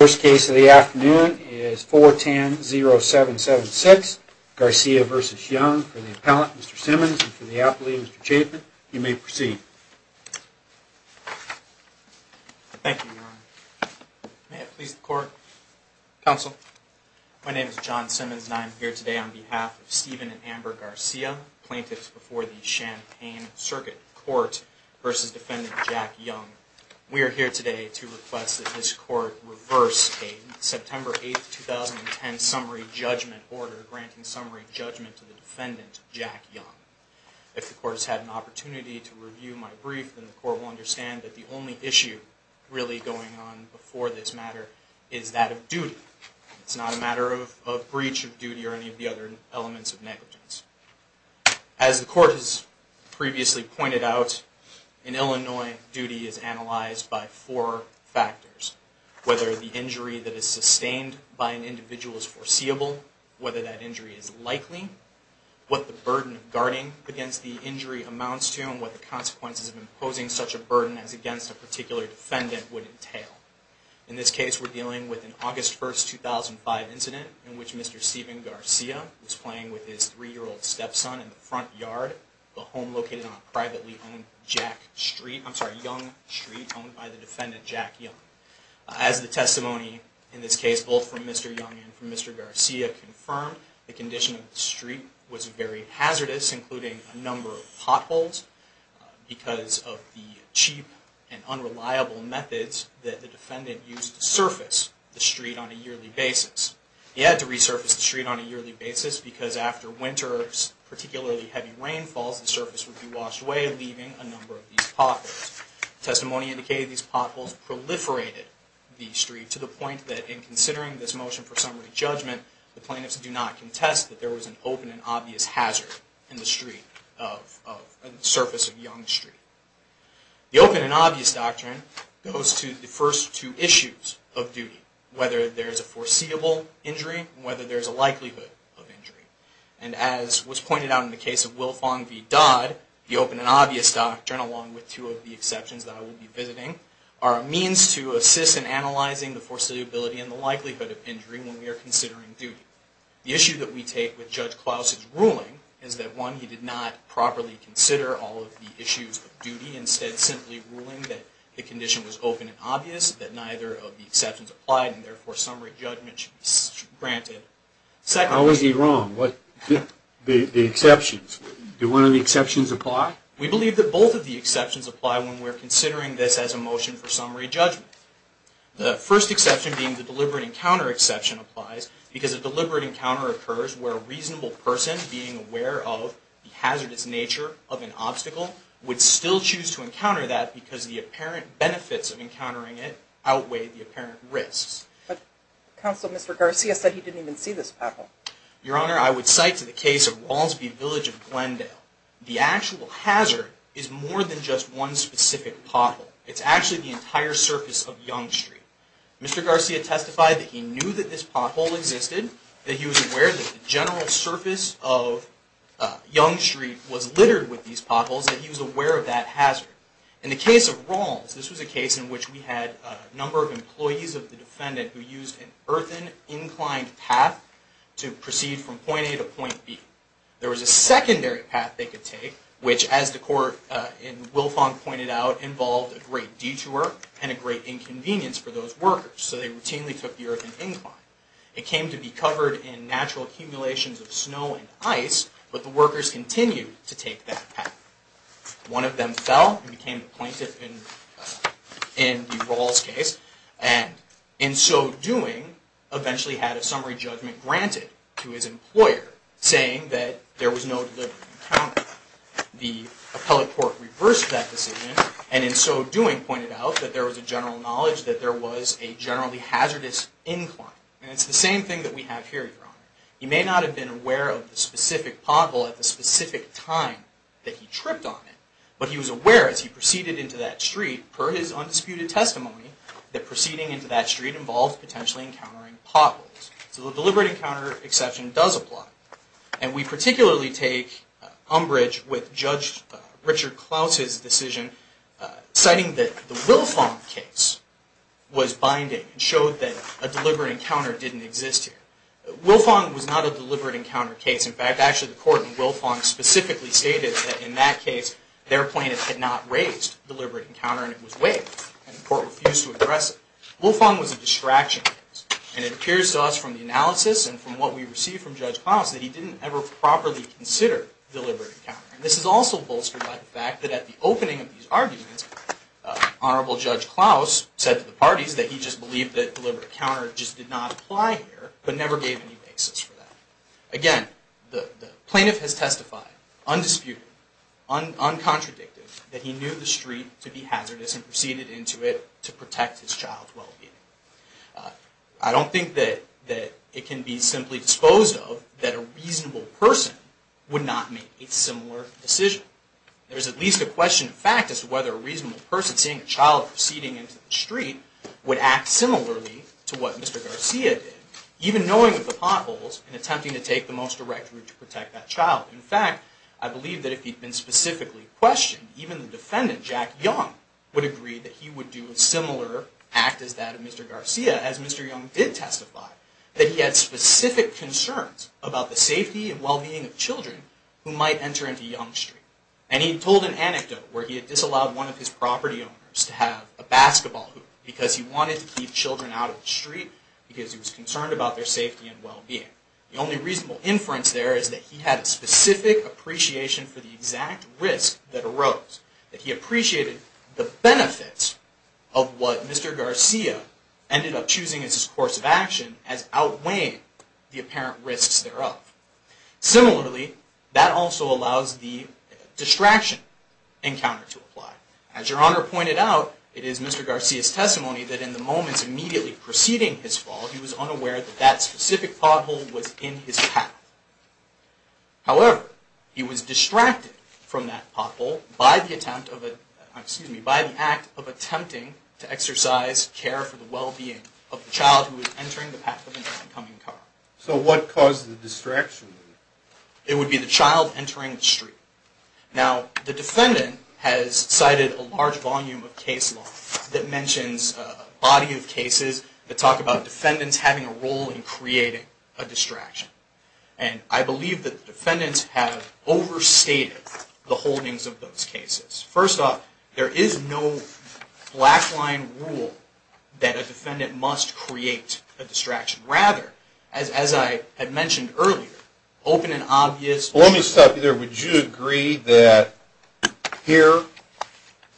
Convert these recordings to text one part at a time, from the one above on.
First case of the afternoon is 410-0776, Garcia v. Young, for the appellant, Mr. Simmons, and for the appellee, Mr. Chapin. You may proceed. Thank you, Your Honor. May it please the Court. Counsel. My name is John Simmons, and I am here today on behalf of Stephen and Amber Garcia, plaintiffs before the Champaign Circuit Court, versus defendant Jack Young. We are here today to request that this Court reverse a September 8, 2010, summary judgment order granting summary judgment to the defendant, Jack Young. If the Court has had an opportunity to review my brief, then the Court will understand that the only issue really going on before this matter is that of duty. It's not a matter of breach of duty or any of the other elements of negligence. As the Court has previously pointed out, in Illinois, duty is analyzed by four factors. Whether the injury that is sustained by an individual is foreseeable, whether that injury is likely, what the burden of guarding against the injury amounts to, and what the consequences of imposing such a burden as against a particular defendant would entail. In this case, we're dealing with an August 1, 2005 incident in which Mr. Stephen Garcia was playing with his 3-year-old stepson in the front yard of a home located on a privately owned Jack Street, I'm sorry, Young Street, owned by the defendant, Jack Young. As the testimony in this case, both from Mr. Young and from Mr. Garcia, confirmed, the condition of the street was very hazardous, including a number of potholes, because of the cheap and unreliable methods that the defendant used to surface the street on a yearly basis. He had to resurface the street on a yearly basis because after winter, particularly heavy rainfalls, the surface would be washed away, leaving a number of these potholes. Testimony indicated these potholes proliferated the street to the point that in considering this motion for summary judgment, the plaintiffs do not contest that there was an open and obvious hazard in the surface of Young Street. The open and obvious doctrine goes to the first two issues of duty, whether there's a foreseeable injury and whether there's a likelihood of injury. And as was pointed out in the case of Wilfong v. Dodd, the open and obvious doctrine, along with two of the exceptions that I will be visiting, are a means to assist in analyzing the foreseeability and the likelihood of injury when we are considering duty. The issue that we take with Judge Klaus's ruling is that, one, he did not properly consider all of the issues of duty, instead simply ruling that the condition was open and obvious, that neither of the exceptions applied, and therefore summary judgment should be granted. How is he wrong? The exceptions, do one of the exceptions apply? We believe that both of the exceptions apply when we're considering this as a motion for summary judgment. The first exception being the deliberate encounter exception applies because a deliberate encounter occurs where a reasonable person, being aware of the hazardous nature of an obstacle, would still choose to encounter that because the apparent benefits of encountering it outweigh the apparent risks. But Counsel, Mr. Garcia said he didn't even see this pothole. Your Honor, I would cite to the case of Rawls v. Village of Glendale, the actual hazard is more than just one specific pothole. It's actually the entire surface of Yonge Street. Mr. Garcia testified that he knew that this pothole existed, that he was aware that the general surface of Yonge Street was littered with these potholes, In the case of Rawls, this was a case in which we had a number of employees of the defendant who used an earthen-inclined path to proceed from point A to point B. There was a secondary path they could take, which, as the court in Wilfong pointed out, involved a great detour and a great inconvenience for those workers, so they routinely took the earthen incline. It came to be covered in natural accumulations of snow and ice, but the workers continued to take that path. One of them fell and became a plaintiff in the Rawls case, and in so doing, eventually had a summary judgment granted to his employer, saying that there was no delivery encountered. The appellate court reversed that decision, and in so doing, pointed out that there was a general knowledge that there was a generally hazardous incline. And it's the same thing that we have here, Your Honor. He may not have been aware of the specific pothole at the specific time that he tripped on it, but he was aware as he proceeded into that street, per his undisputed testimony, that proceeding into that street involved potentially encountering potholes. So the deliberate encounter exception does apply. And we particularly take umbrage with Judge Richard Klaus's decision, citing that the Wilfong case was binding, and showed that a deliberate encounter didn't exist here. Wilfong was not a deliberate encounter case. In fact, actually, the court in Wilfong specifically stated that in that case, their plaintiff had not raised deliberate encounter, and it was waived, and the court refused to address it. Wilfong was a distraction case, and it appears to us from the analysis and from what we received from Judge Klaus, that he didn't ever properly consider deliberate encounter. And this is also bolstered by the fact that at the opening of these arguments, Honorable Judge Klaus said to the parties that he just believed that deliberate encounter just did not apply here. But never gave any basis for that. Again, the plaintiff has testified, undisputed, uncontradicted, that he knew the street to be hazardous, and proceeded into it to protect his child's well-being. I don't think that it can be simply disposed of that a reasonable person would not make a similar decision. There is at least a question of fact as to whether a reasonable person seeing a child proceeding into the street would act similarly to what Mr. Garcia did, even knowing of the potholes and attempting to take the most direct route to protect that child. In fact, I believe that if he'd been specifically questioned, even the defendant, Jack Young, would agree that he would do a similar act as that of Mr. Garcia, as Mr. Young did testify, that he had specific concerns about the safety and well-being of children who might enter into Young Street. And he told an anecdote where he had disallowed one of his property owners to have a basketball hoop because he wanted to keep children out of the street because he was concerned about their safety and well-being. The only reasonable inference there is that he had a specific appreciation for the exact risk that arose. That he appreciated the benefits of what Mr. Garcia ended up choosing as his course of action as outweighing the apparent risks thereof. Similarly, that also allows the distraction encounter to apply. As Your Honor pointed out, it is Mr. Garcia's testimony that in the moments immediately preceding his fall, he was unaware that that specific pothole was in his path. However, he was distracted from that pothole by the act of attempting to exercise care for the well-being of the child who was entering the path of an incoming car. So what caused the distraction? It would be the child entering the street. Now, the defendant has cited a large volume of case law that mentions a body of cases that talk about defendants having a role in creating a distraction. And I believe that the defendants have overstated the holdings of those cases. First off, there is no black line rule that a defendant must create a distraction. Rather, as I had mentioned earlier, open and obvious... Well, let me stop you there. Would you agree that here,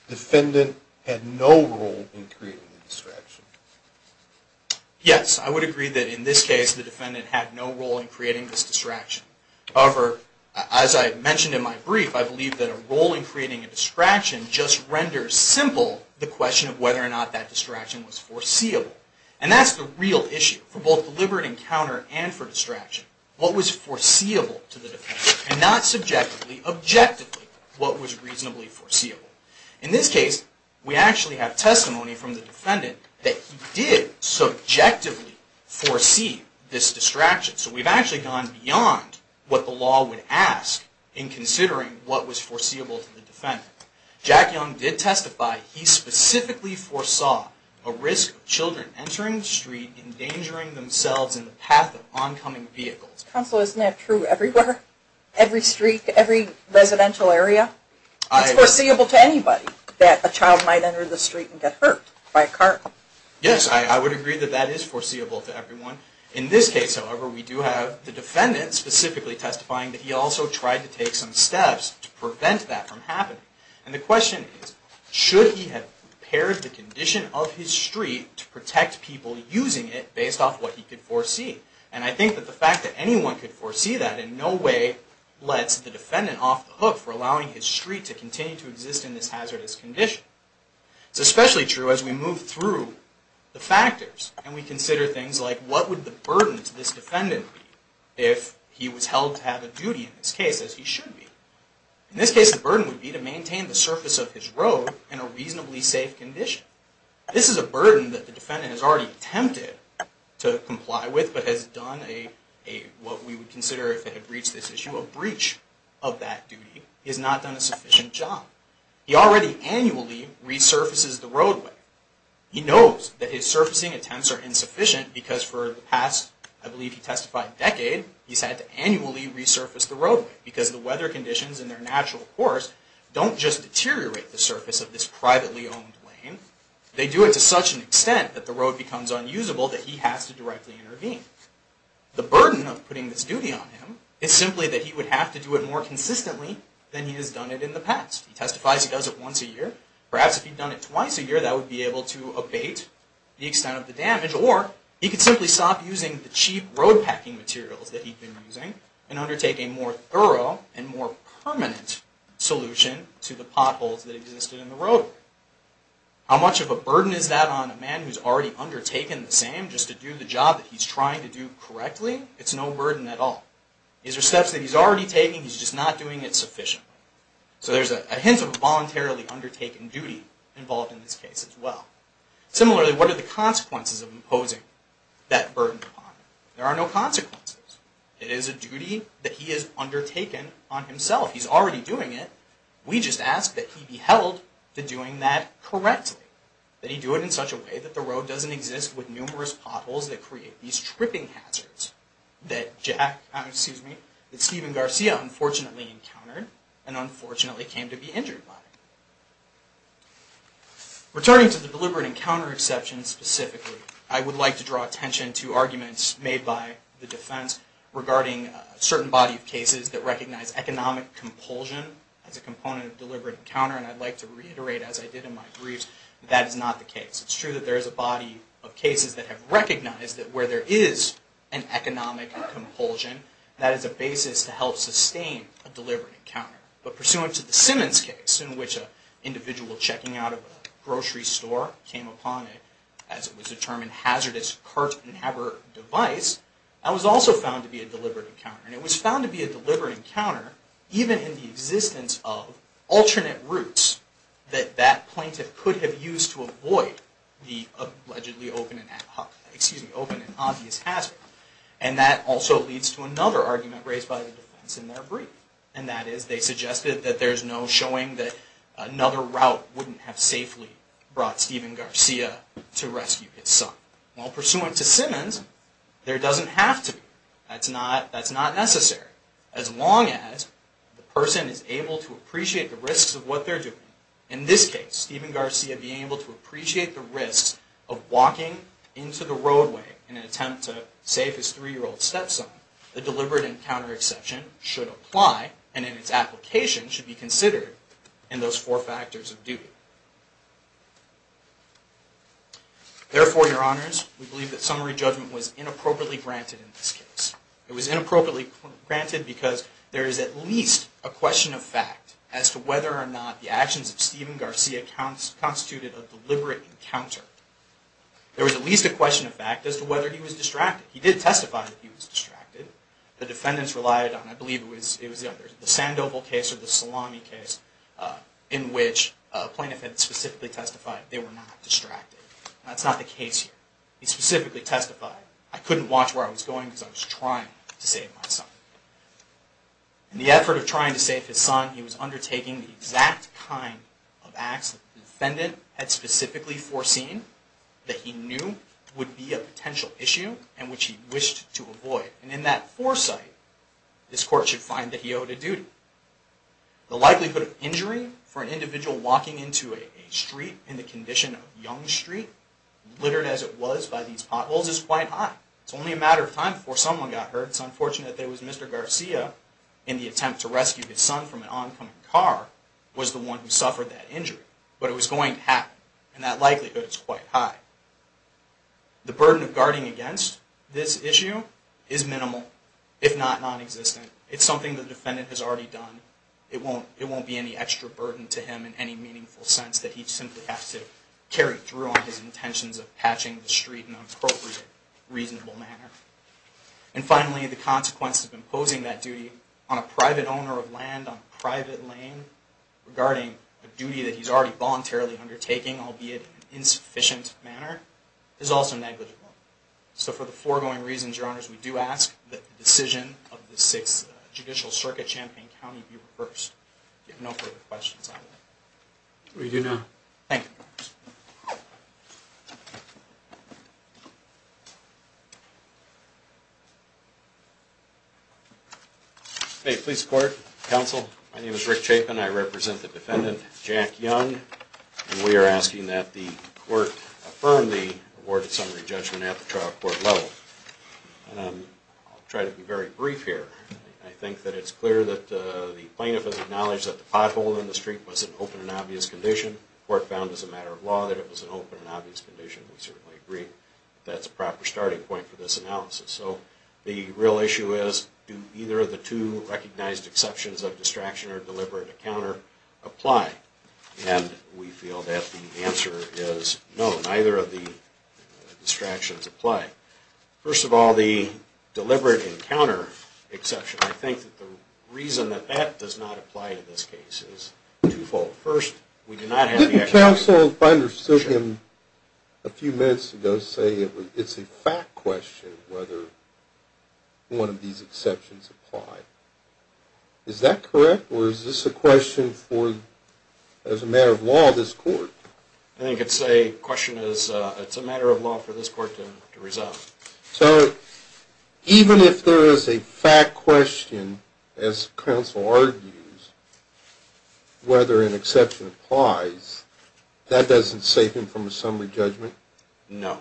the defendant had no role in creating the distraction? Yes, I would agree that in this case, the defendant had no role in creating this distraction. However, as I mentioned in my brief, I believe that a role in creating a distraction just renders simple the question of whether or not that distraction was foreseeable. And that's the real issue for both deliberate encounter and for distraction. What was foreseeable to the defendant? And not subjectively, objectively, what was reasonably foreseeable? In this case, we actually have testimony from the defendant that he did subjectively foresee this distraction. So we've actually gone beyond what the law would ask in considering what was foreseeable to the defendant. Jack Young did testify he specifically foresaw a risk of children entering the street endangering themselves in the path of oncoming vehicles. Counsel, isn't that true everywhere? Every street, every residential area? It's foreseeable to anybody that a child might enter the street and get hurt by a car. Yes, I would agree that that is foreseeable to everyone. In this case, however, we do have the defendant specifically testifying that he also tried to take some steps to prevent that from happening. And the question is, should he have prepared the condition of his street to protect people using it based off what he could foresee? And I think that the fact that anyone could foresee that in no way lets the defendant off the hook for allowing his street to continue to exist in this hazardous condition. It's especially true as we move through the factors and we consider things like, what would the burden to this defendant be if he was held to have a duty in this case, as he should be? In this case, the burden would be to maintain the surface of his road in a reasonably safe condition. This is a burden that the defendant has already attempted to comply with, but has done what we would consider, if it had breached this issue, a breach of that duty. He has not done a sufficient job. He already annually resurfaces the roadway. He knows that his surfacing attempts are insufficient because for the past, I believe he testified, decade, he's had to annually resurface the roadway because the weather conditions in their natural course don't just deteriorate the surface of this privately owned lane. They do it to such an extent that the road becomes unusable that he has to directly intervene. The burden of putting this duty on him is simply that he would have to do it more consistently than he has done it in the past. He testifies he does it once a year. Perhaps if he'd done it twice a year, that would be able to abate the extent of the damage, or he could simply stop using the cheap road packing materials that he'd been using and undertake a more thorough and more permanent solution to the potholes that existed in the roadway. How much of a burden is that on a man who's already undertaken the same, just to do the job that he's trying to do correctly? It's no burden at all. These are steps that he's already taking, he's just not doing it sufficiently. So there's a hint of a voluntarily undertaken duty involved in this case as well. Similarly, what are the consequences of imposing that burden upon him? There are no consequences. It is a duty that he has undertaken on himself. He's already doing it. We just ask that he be held to doing that correctly, that he do it in such a way that the road doesn't exist with numerous potholes that create these tripping hazards that Stephen Garcia unfortunately encountered and unfortunately came to be injured by. Returning to the deliberate encounter exception specifically, I would like to draw attention to arguments made by the defense regarding a certain body of cases that recognize economic compulsion as a component of deliberate encounter, and I'd like to reiterate, as I did in my briefs, that that is not the case. It's true that there is a body of cases that have recognized that where there is an economic compulsion, that is a basis to help sustain a deliberate encounter. But pursuant to the Simmons case, in which an individual checking out of a grocery store came upon a, as it was determined, hazardous cart-inhabitant device, that was also found to be a deliberate encounter. And it was found to be a deliberate encounter, even in the existence of alternate routes that that plaintiff could have used to avoid the allegedly open and obvious hazard. And that also leads to another argument raised by the defense in their brief. And that is, they suggested that there's no showing that another route wouldn't have safely brought Stephen Garcia to rescue his son. Well, pursuant to Simmons, there doesn't have to be. That's not necessary. As long as the person is able to appreciate the risks of what they're doing, in this case, Stephen Garcia being able to appreciate the risks of walking into the roadway in an attempt to save his three-year-old stepson, the deliberate encounter exception should apply, and in its application should be considered in those four factors of duty. Therefore, your honors, we believe that summary judgment was inappropriately granted in this case. It was inappropriately granted because there is at least a question of fact as to whether or not the actions of Stephen Garcia constituted a deliberate encounter. There was at least a question of fact as to whether he was distracted. He did testify that he was distracted. The defendants relied on, I believe it was the Sandoval case or the Salami case, in which a plaintiff had specifically testified they were not distracted. That's not the case here. He specifically testified, I couldn't watch where I was going because I was trying to save my son. In the effort of trying to save his son, he was undertaking the exact kind of acts that the defendant had specifically foreseen that he knew would be a potential issue and which he wished to avoid. And in that foresight, this court should find that he owed a duty. The likelihood of injury for an individual walking into a street in the condition of Young Street, littered as it was by these potholes, is quite high. It's only a matter of time before someone got hurt. It's unfortunate that it was Mr. Garcia, in the attempt to rescue his son from an oncoming car, was the one who suffered that injury. But it was going to happen, and that likelihood is quite high. The burden of guarding against this issue is minimal, if not nonexistent. It's something the defendant has already done. It won't be any extra burden to him in any meaningful sense that he simply has to carry through on his intentions of patching the street in an appropriate, reasonable manner. And finally, the consequence of imposing that duty on a private owner of land on a private lane, regarding a duty that he's already voluntarily undertaking, albeit in an insufficient manner, is also negligible. So for the foregoing reasons, Your Honors, we do ask that the decision of the Sixth Judicial Circuit, Champaign County, be reversed. If you have no further questions, I will. We do now. Thank you. Thank you. May it please the Court, Counsel. My name is Rick Chapin. I represent the defendant, Jack Young. We are asking that the Court affirm the awarded summary judgment at the trial court level. I'll try to be very brief here. I think that it's clear that the plaintiff has acknowledged that the pothole in the street was an open and obvious condition. The Court found as a matter of law that it was an open and obvious condition. We certainly agree that that's a proper starting point for this analysis. So the real issue is, do either of the two recognized exceptions of distraction or deliberate encounter apply? And we feel that the answer is no. Neither of the distractions apply. First of all, the deliberate encounter exception, I think that the reason that that does not apply to this case is twofold. First, we do not have the exception. Didn't the Counsel, if I understood him a few minutes ago, say it's a fact question whether one of these exceptions apply? Is that correct? Or is this a question for, as a matter of law, this Court? I think it's a question as a matter of law for this Court to resolve. So even if there is a fact question, as Counsel argues, whether an exception applies, that doesn't save him from a summary judgment? No.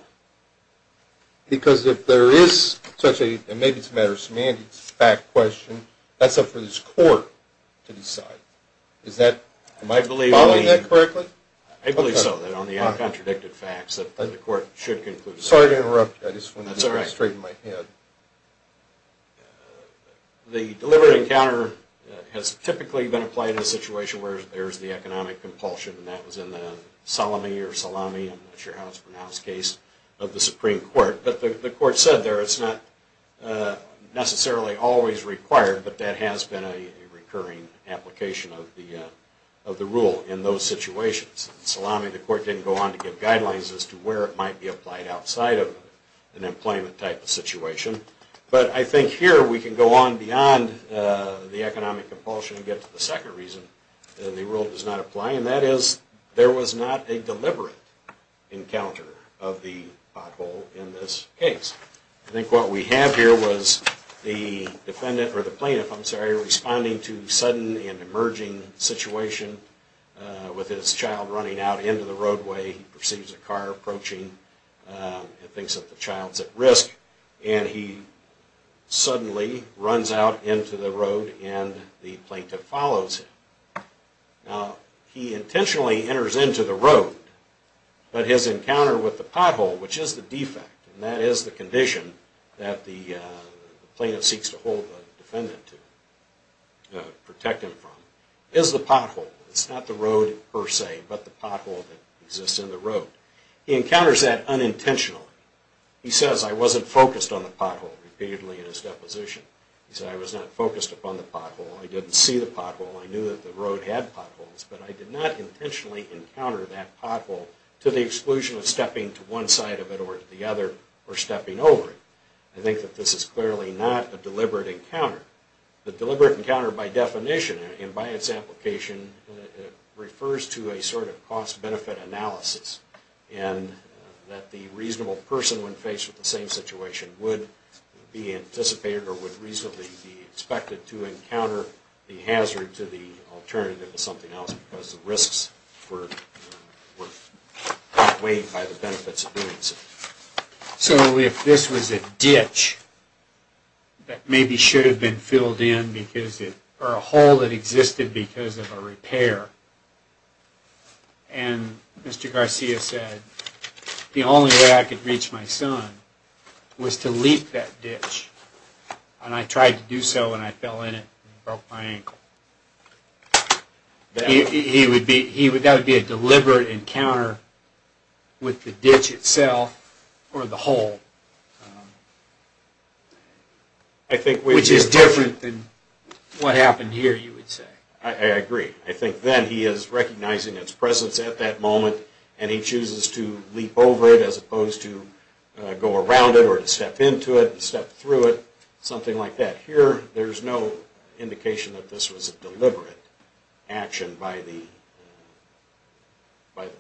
Because if there is such a, and maybe it's a matter of semantics, fact question, that's up for this Court to decide. Am I following that correctly? I believe so, that on the uncontradicted facts that the Court should conclude. Sorry to interrupt you. I just wanted to straighten my head. The deliberate encounter has typically been applied in a situation where there is the economic compulsion, and that was in the Salami, I'm not sure how it's pronounced, case of the Supreme Court. But the Court said there it's not necessarily always required, but that has been a recurring application of the rule in those situations. In Salami, the Court didn't go on to give guidelines as to where it might be applied outside of an employment type of situation. But I think here we can go on beyond the economic compulsion and get to the second reason that the rule does not apply, and that is there was not a deliberate encounter of the pothole in this case. I think what we have here was the defendant, or the plaintiff, I'm sorry, responding to a sudden and emerging situation with his child running out into the roadway. He perceives a car approaching and thinks that the child is at risk, and he suddenly runs out into the road and the plaintiff follows him. Now, he intentionally enters into the road, but his encounter with the pothole, which is the defect, and that is the condition that the plaintiff seeks to hold the defendant to, protect him from, is the pothole. It's not the road per se, but the pothole that exists in the road. He encounters that unintentionally. He says, I wasn't focused on the pothole repeatedly in his deposition. He said, I was not focused upon the pothole. I didn't see the pothole. I knew that the road had potholes, but I did not intentionally encounter that pothole to the exclusion of stepping to one side of it or to the other or stepping over it. I think that this is clearly not a deliberate encounter. The deliberate encounter, by definition and by its application, refers to a sort of cost-benefit analysis in that the reasonable person, when faced with the same situation, would be anticipated or would reasonably be expected to encounter the hazard to the alternative to something else because the risks were outweighed by the benefits of doing so. So if this was a ditch that maybe should have been filled in or a hole that existed because of a repair, and Mr. Garcia said, the only way I could reach my son was to leap that ditch, and I tried to do so and I fell in it and broke my ankle, that would be a deliberate encounter with the ditch itself or the hole, which is different than what happened here, you would say. I agree. I think then he is recognizing its presence at that moment and he chooses to leap over it as opposed to go around it or to step into it and step through it, something like that. Here there is no indication that this was a deliberate action by the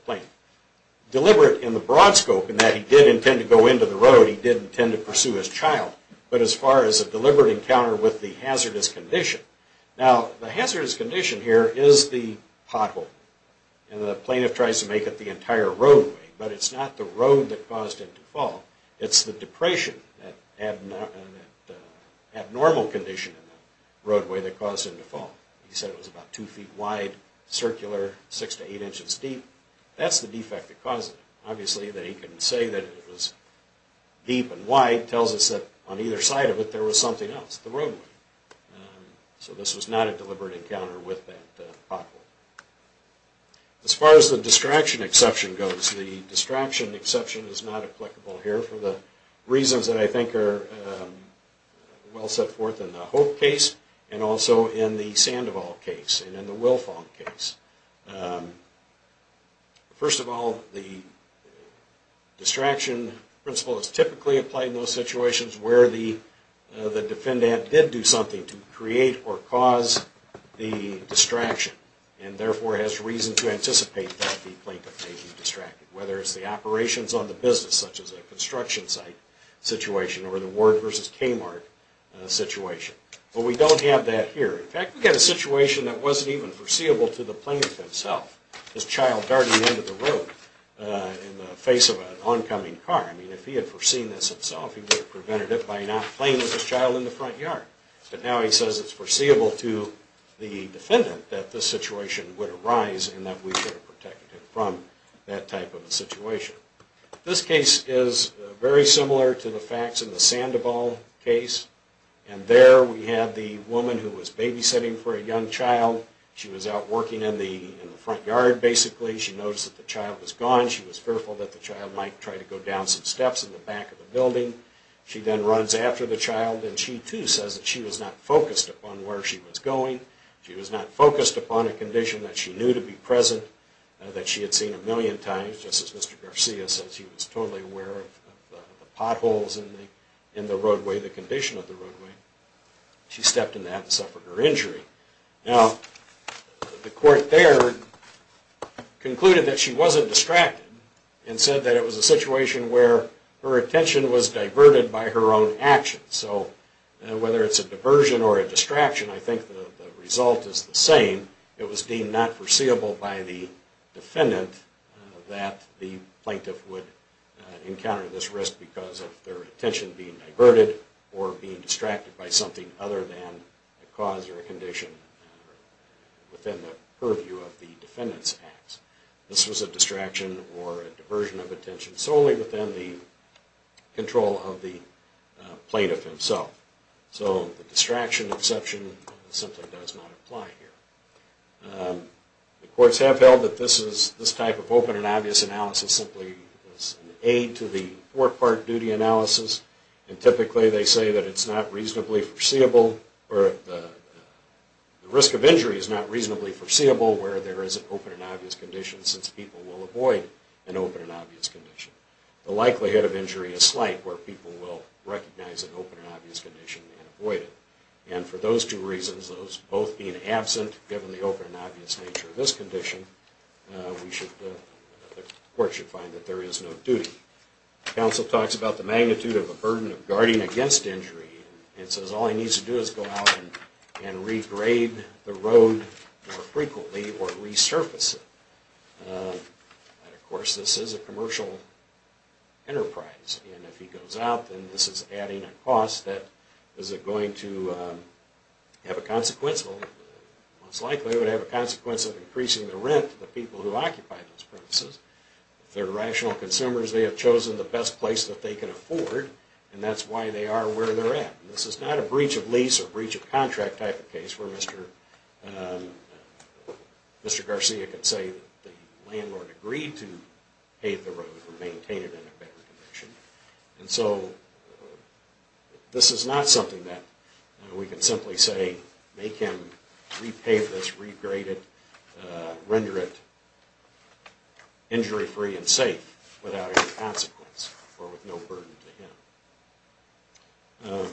plaintiff. Deliberate in the broad scope in that he did intend to go into the road, he did intend to pursue his child, but as far as a deliberate encounter with the hazardous condition, now the hazardous condition here is the pothole, and the plaintiff tries to make it the entire roadway, but it's not the road that caused him to fall, it's the depression, that abnormal condition in the roadway that caused him to fall. He said it was about two feet wide, circular, six to eight inches deep, that's the defect that caused it. Obviously that he couldn't say that it was deep and wide tells us that on either side of it there was something else, the roadway. So this was not a deliberate encounter with that pothole. As far as the distraction exception goes, the distraction exception is not applicable here for the reasons that I think are well set forth in the Hope case and also in the Sandoval case and in the Wilfong case. First of all, the distraction principle is typically applied in those situations where the defendant did do something to create or cause the distraction and therefore has reason to anticipate that the plaintiff may be distracted, whether it's the operations on the business, such as a construction site situation, or the Ward versus Kmart situation. But we don't have that here. In fact, we have a situation that wasn't even foreseeable to the plaintiff himself, his child darting into the road in the face of an oncoming car. I mean, if he had foreseen this himself, he would have prevented it by not playing with his child in the front yard. But now he says it's foreseeable to the defendant that this situation would arise and that we should have protected him from that type of a situation. This case is very similar to the facts in the Sandoval case, and there we have the woman who was babysitting for a young child. She was out working in the front yard, basically. She noticed that the child was gone. She was fearful that the child might try to go down some steps in the back of the building. She then runs after the child, and she too says that she was not focused upon where she was going. She was not focused upon a condition that she knew to be present, that she had seen a million times, just as Mr. Garcia said. She was totally aware of the potholes in the roadway, the condition of the roadway. She stepped in that and suffered her injury. Now, the court there concluded that she wasn't distracted and said that it was a situation where her attention was diverted by her own actions. So whether it's a diversion or a distraction, I think the result is the same. It was deemed not foreseeable by the defendant that the plaintiff would encounter this risk because of their attention being diverted or being distracted by something other than a cause or a condition within the purview of the defendant's acts. This was a distraction or a diversion of attention solely within the control of the plaintiff himself. So the distraction exception simply does not apply here. The courts have held that this type of open and obvious analysis simply is an aid to the four-part duty analysis, and typically they say that it's not reasonably foreseeable, or the risk of injury is not reasonably foreseeable where there is an open and obvious condition since people will avoid an open and obvious condition. The likelihood of injury is slight where people will recognize an open and obvious condition and avoid it. And for those two reasons, those both being absent, given the open and obvious nature of this condition, the court should find that there is no duty. The counsel talks about the magnitude of the burden of guarding against injury and says all he needs to do is go out and regrade the road more frequently or resurface it. And of course this is a commercial enterprise, and if he goes out then this is adding a cost that is going to have a consequence, most likely it would have a consequence of increasing the rent to the people who occupy those premises. If they're rational consumers, they have chosen the best place that they can afford, and that's why they are where they're at. This is not a breach of lease or breach of contract type of case where Mr. Garcia can say the landlord agreed to pave the road or maintain it in a better condition. And so this is not something that we can simply say make him repave this, regrade it, and render it injury-free and safe without any consequence or with no burden to him.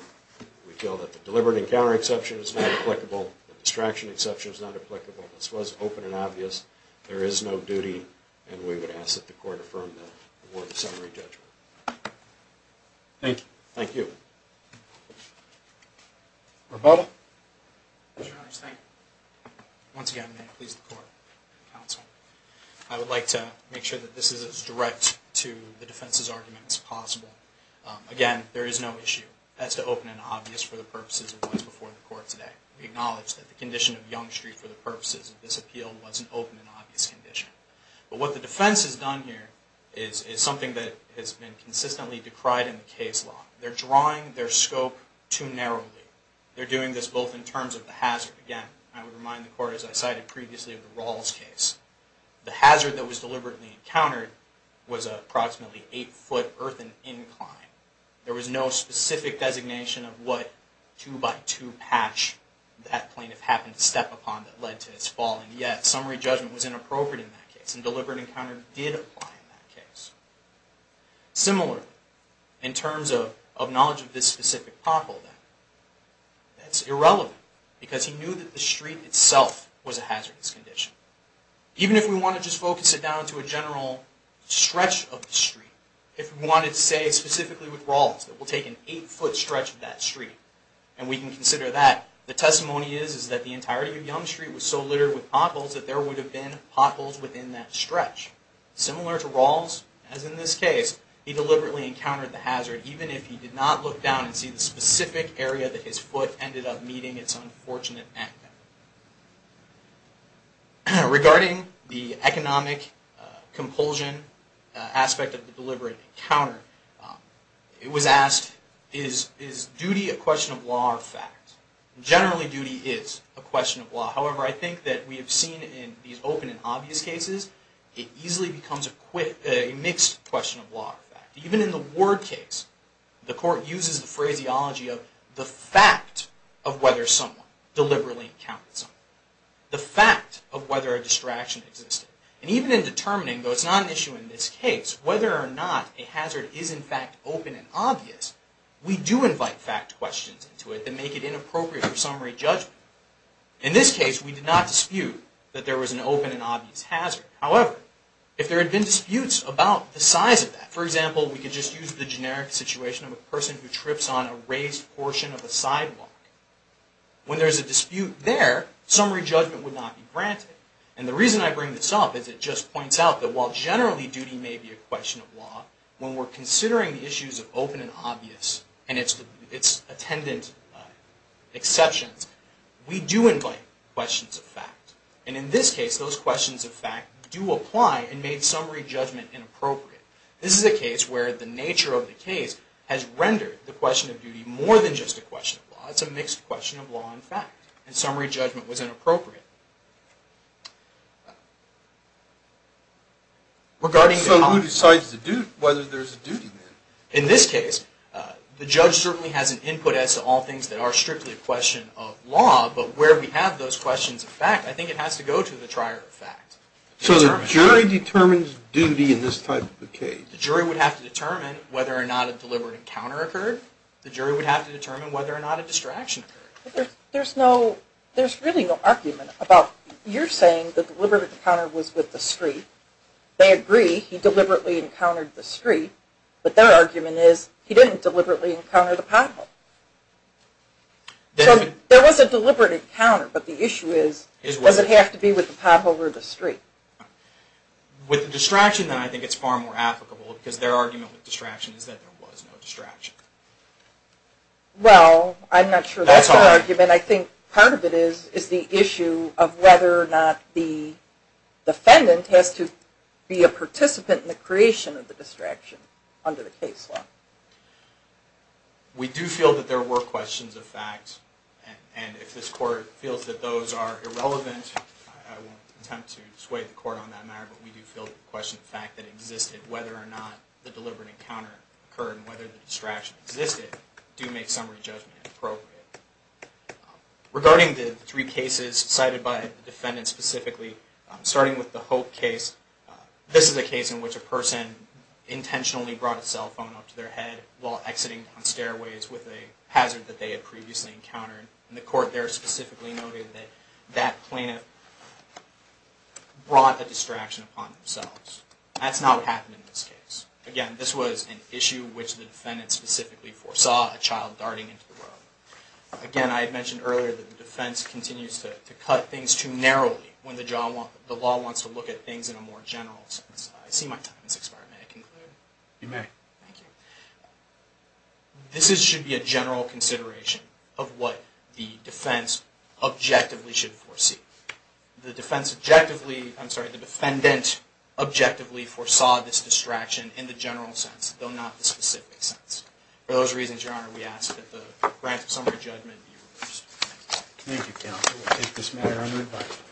We feel that the deliberate encounter exception is not applicable, the distraction exception is not applicable. This was open and obvious. There is no duty, and we would ask that the court affirm the award of summary judgment. Thank you. Thank you. Roberta. Mr. Hunter, thank you. Once again, may it please the court and counsel, I would like to make sure that this is as direct to the defense's argument as possible. Again, there is no issue as to open and obvious for the purposes of what's before the court today. We acknowledge that the condition of Yonge Street for the purposes of this appeal was an open and obvious condition. But what the defense has done here is something that has been consistently decried in the case law. They're drawing their scope too narrowly. They're doing this both in terms of the hazard. Again, I would remind the court, as I cited previously, of the Rawls case. The hazard that was deliberately encountered was an approximately eight-foot earthen incline. There was no specific designation of what two-by-two patch that plaintiff happened to step upon that led to his falling. Yet, summary judgment was inappropriate in that case, and deliberate encounter did apply in that case. Similar, in terms of knowledge of this specific pothole, that's irrelevant, because he knew that the street itself was a hazardous condition. Even if we want to just focus it down to a general stretch of the street, if we wanted to say specifically with Rawls that we'll take an eight-foot stretch of that street, and we can consider that, the testimony is that the entirety of Yonge Street was so littered with potholes that there would have been potholes within that stretch. Similar to Rawls, as in this case, he deliberately encountered the hazard, even if he did not look down and see the specific area that his foot ended up meeting its unfortunate end. Regarding the economic compulsion aspect of the deliberate encounter, it was asked, is duty a question of law or fact? Generally, duty is a question of law. However, I think that we have seen in these open and obvious cases, it easily becomes a mixed question of law or fact. Even in the Ward case, the court uses the phraseology of the fact of whether someone deliberately encountered something. The fact of whether a distraction existed. And even in determining, though it's not an issue in this case, whether or not a hazard is in fact open and obvious, we do invite fact questions into it that make it inappropriate for summary judgment. In this case, we did not dispute that there was an open and obvious hazard. However, if there had been disputes about the size of that, for example, we could just use the generic situation of a person who trips on a raised portion of a sidewalk. When there's a dispute there, summary judgment would not be granted. And the reason I bring this up is it just points out that while generally duty may be a question of law, when we're considering the issues of open and obvious and its attendant exceptions, we do invite questions of fact. And in this case, those questions of fact do apply and make summary judgment inappropriate. This is a case where the nature of the case has rendered the question of duty more than just a question of law. It's a mixed question of law and fact. And summary judgment was inappropriate. So who decides whether there's a duty then? In this case, the judge certainly has an input as to all things that are strictly a question of law, but where we have those questions of fact, I think it has to go to the trier of fact. So the jury determines duty in this type of a case? The jury would have to determine whether or not a deliberate encounter occurred. The jury would have to determine whether or not a distraction occurred. There's really no argument about you're saying the deliberate encounter was with the street. They agree he deliberately encountered the street, but their argument is he didn't deliberately encounter the pothole. So there was a deliberate encounter, but the issue is, does it have to be with the pothole or the street? With the distraction, then, I think it's far more applicable, because their argument with distraction is that there was no distraction. Well, I'm not sure that's our argument. I think part of it is the issue of whether or not the defendant has to be a participant in the creation of the distraction under the case law. We do feel that there were questions of fact, and if this Court feels that those are irrelevant, I won't attempt to sway the Court on that matter, but we do feel that the question of fact that existed, whether or not the deliberate encounter occurred and whether the distraction existed, do make summary judgment appropriate. Regarding the three cases cited by the defendant specifically, starting with the Hope case, this is a case in which a person intentionally brought a cell phone up to their head while exiting down stairways with a hazard that they had previously encountered, and the Court there specifically noted that that plaintiff brought a distraction upon themselves. That's not what happened in this case. Again, this was an issue which the defendant specifically foresaw a child darting into the room. Again, I had mentioned earlier that the defense continues to cut things too narrowly when the law wants to look at things in a more general sense. I see my time has expired. May I conclude? You may. Thank you. This should be a general consideration of what the defense objectively should foresee. The defendant objectively foresaw this distraction in the general sense, though not the specific sense. For those reasons, Your Honor, we ask that the grant of summary judgment be reversed. Thank you, counsel. We'll take this matter under review.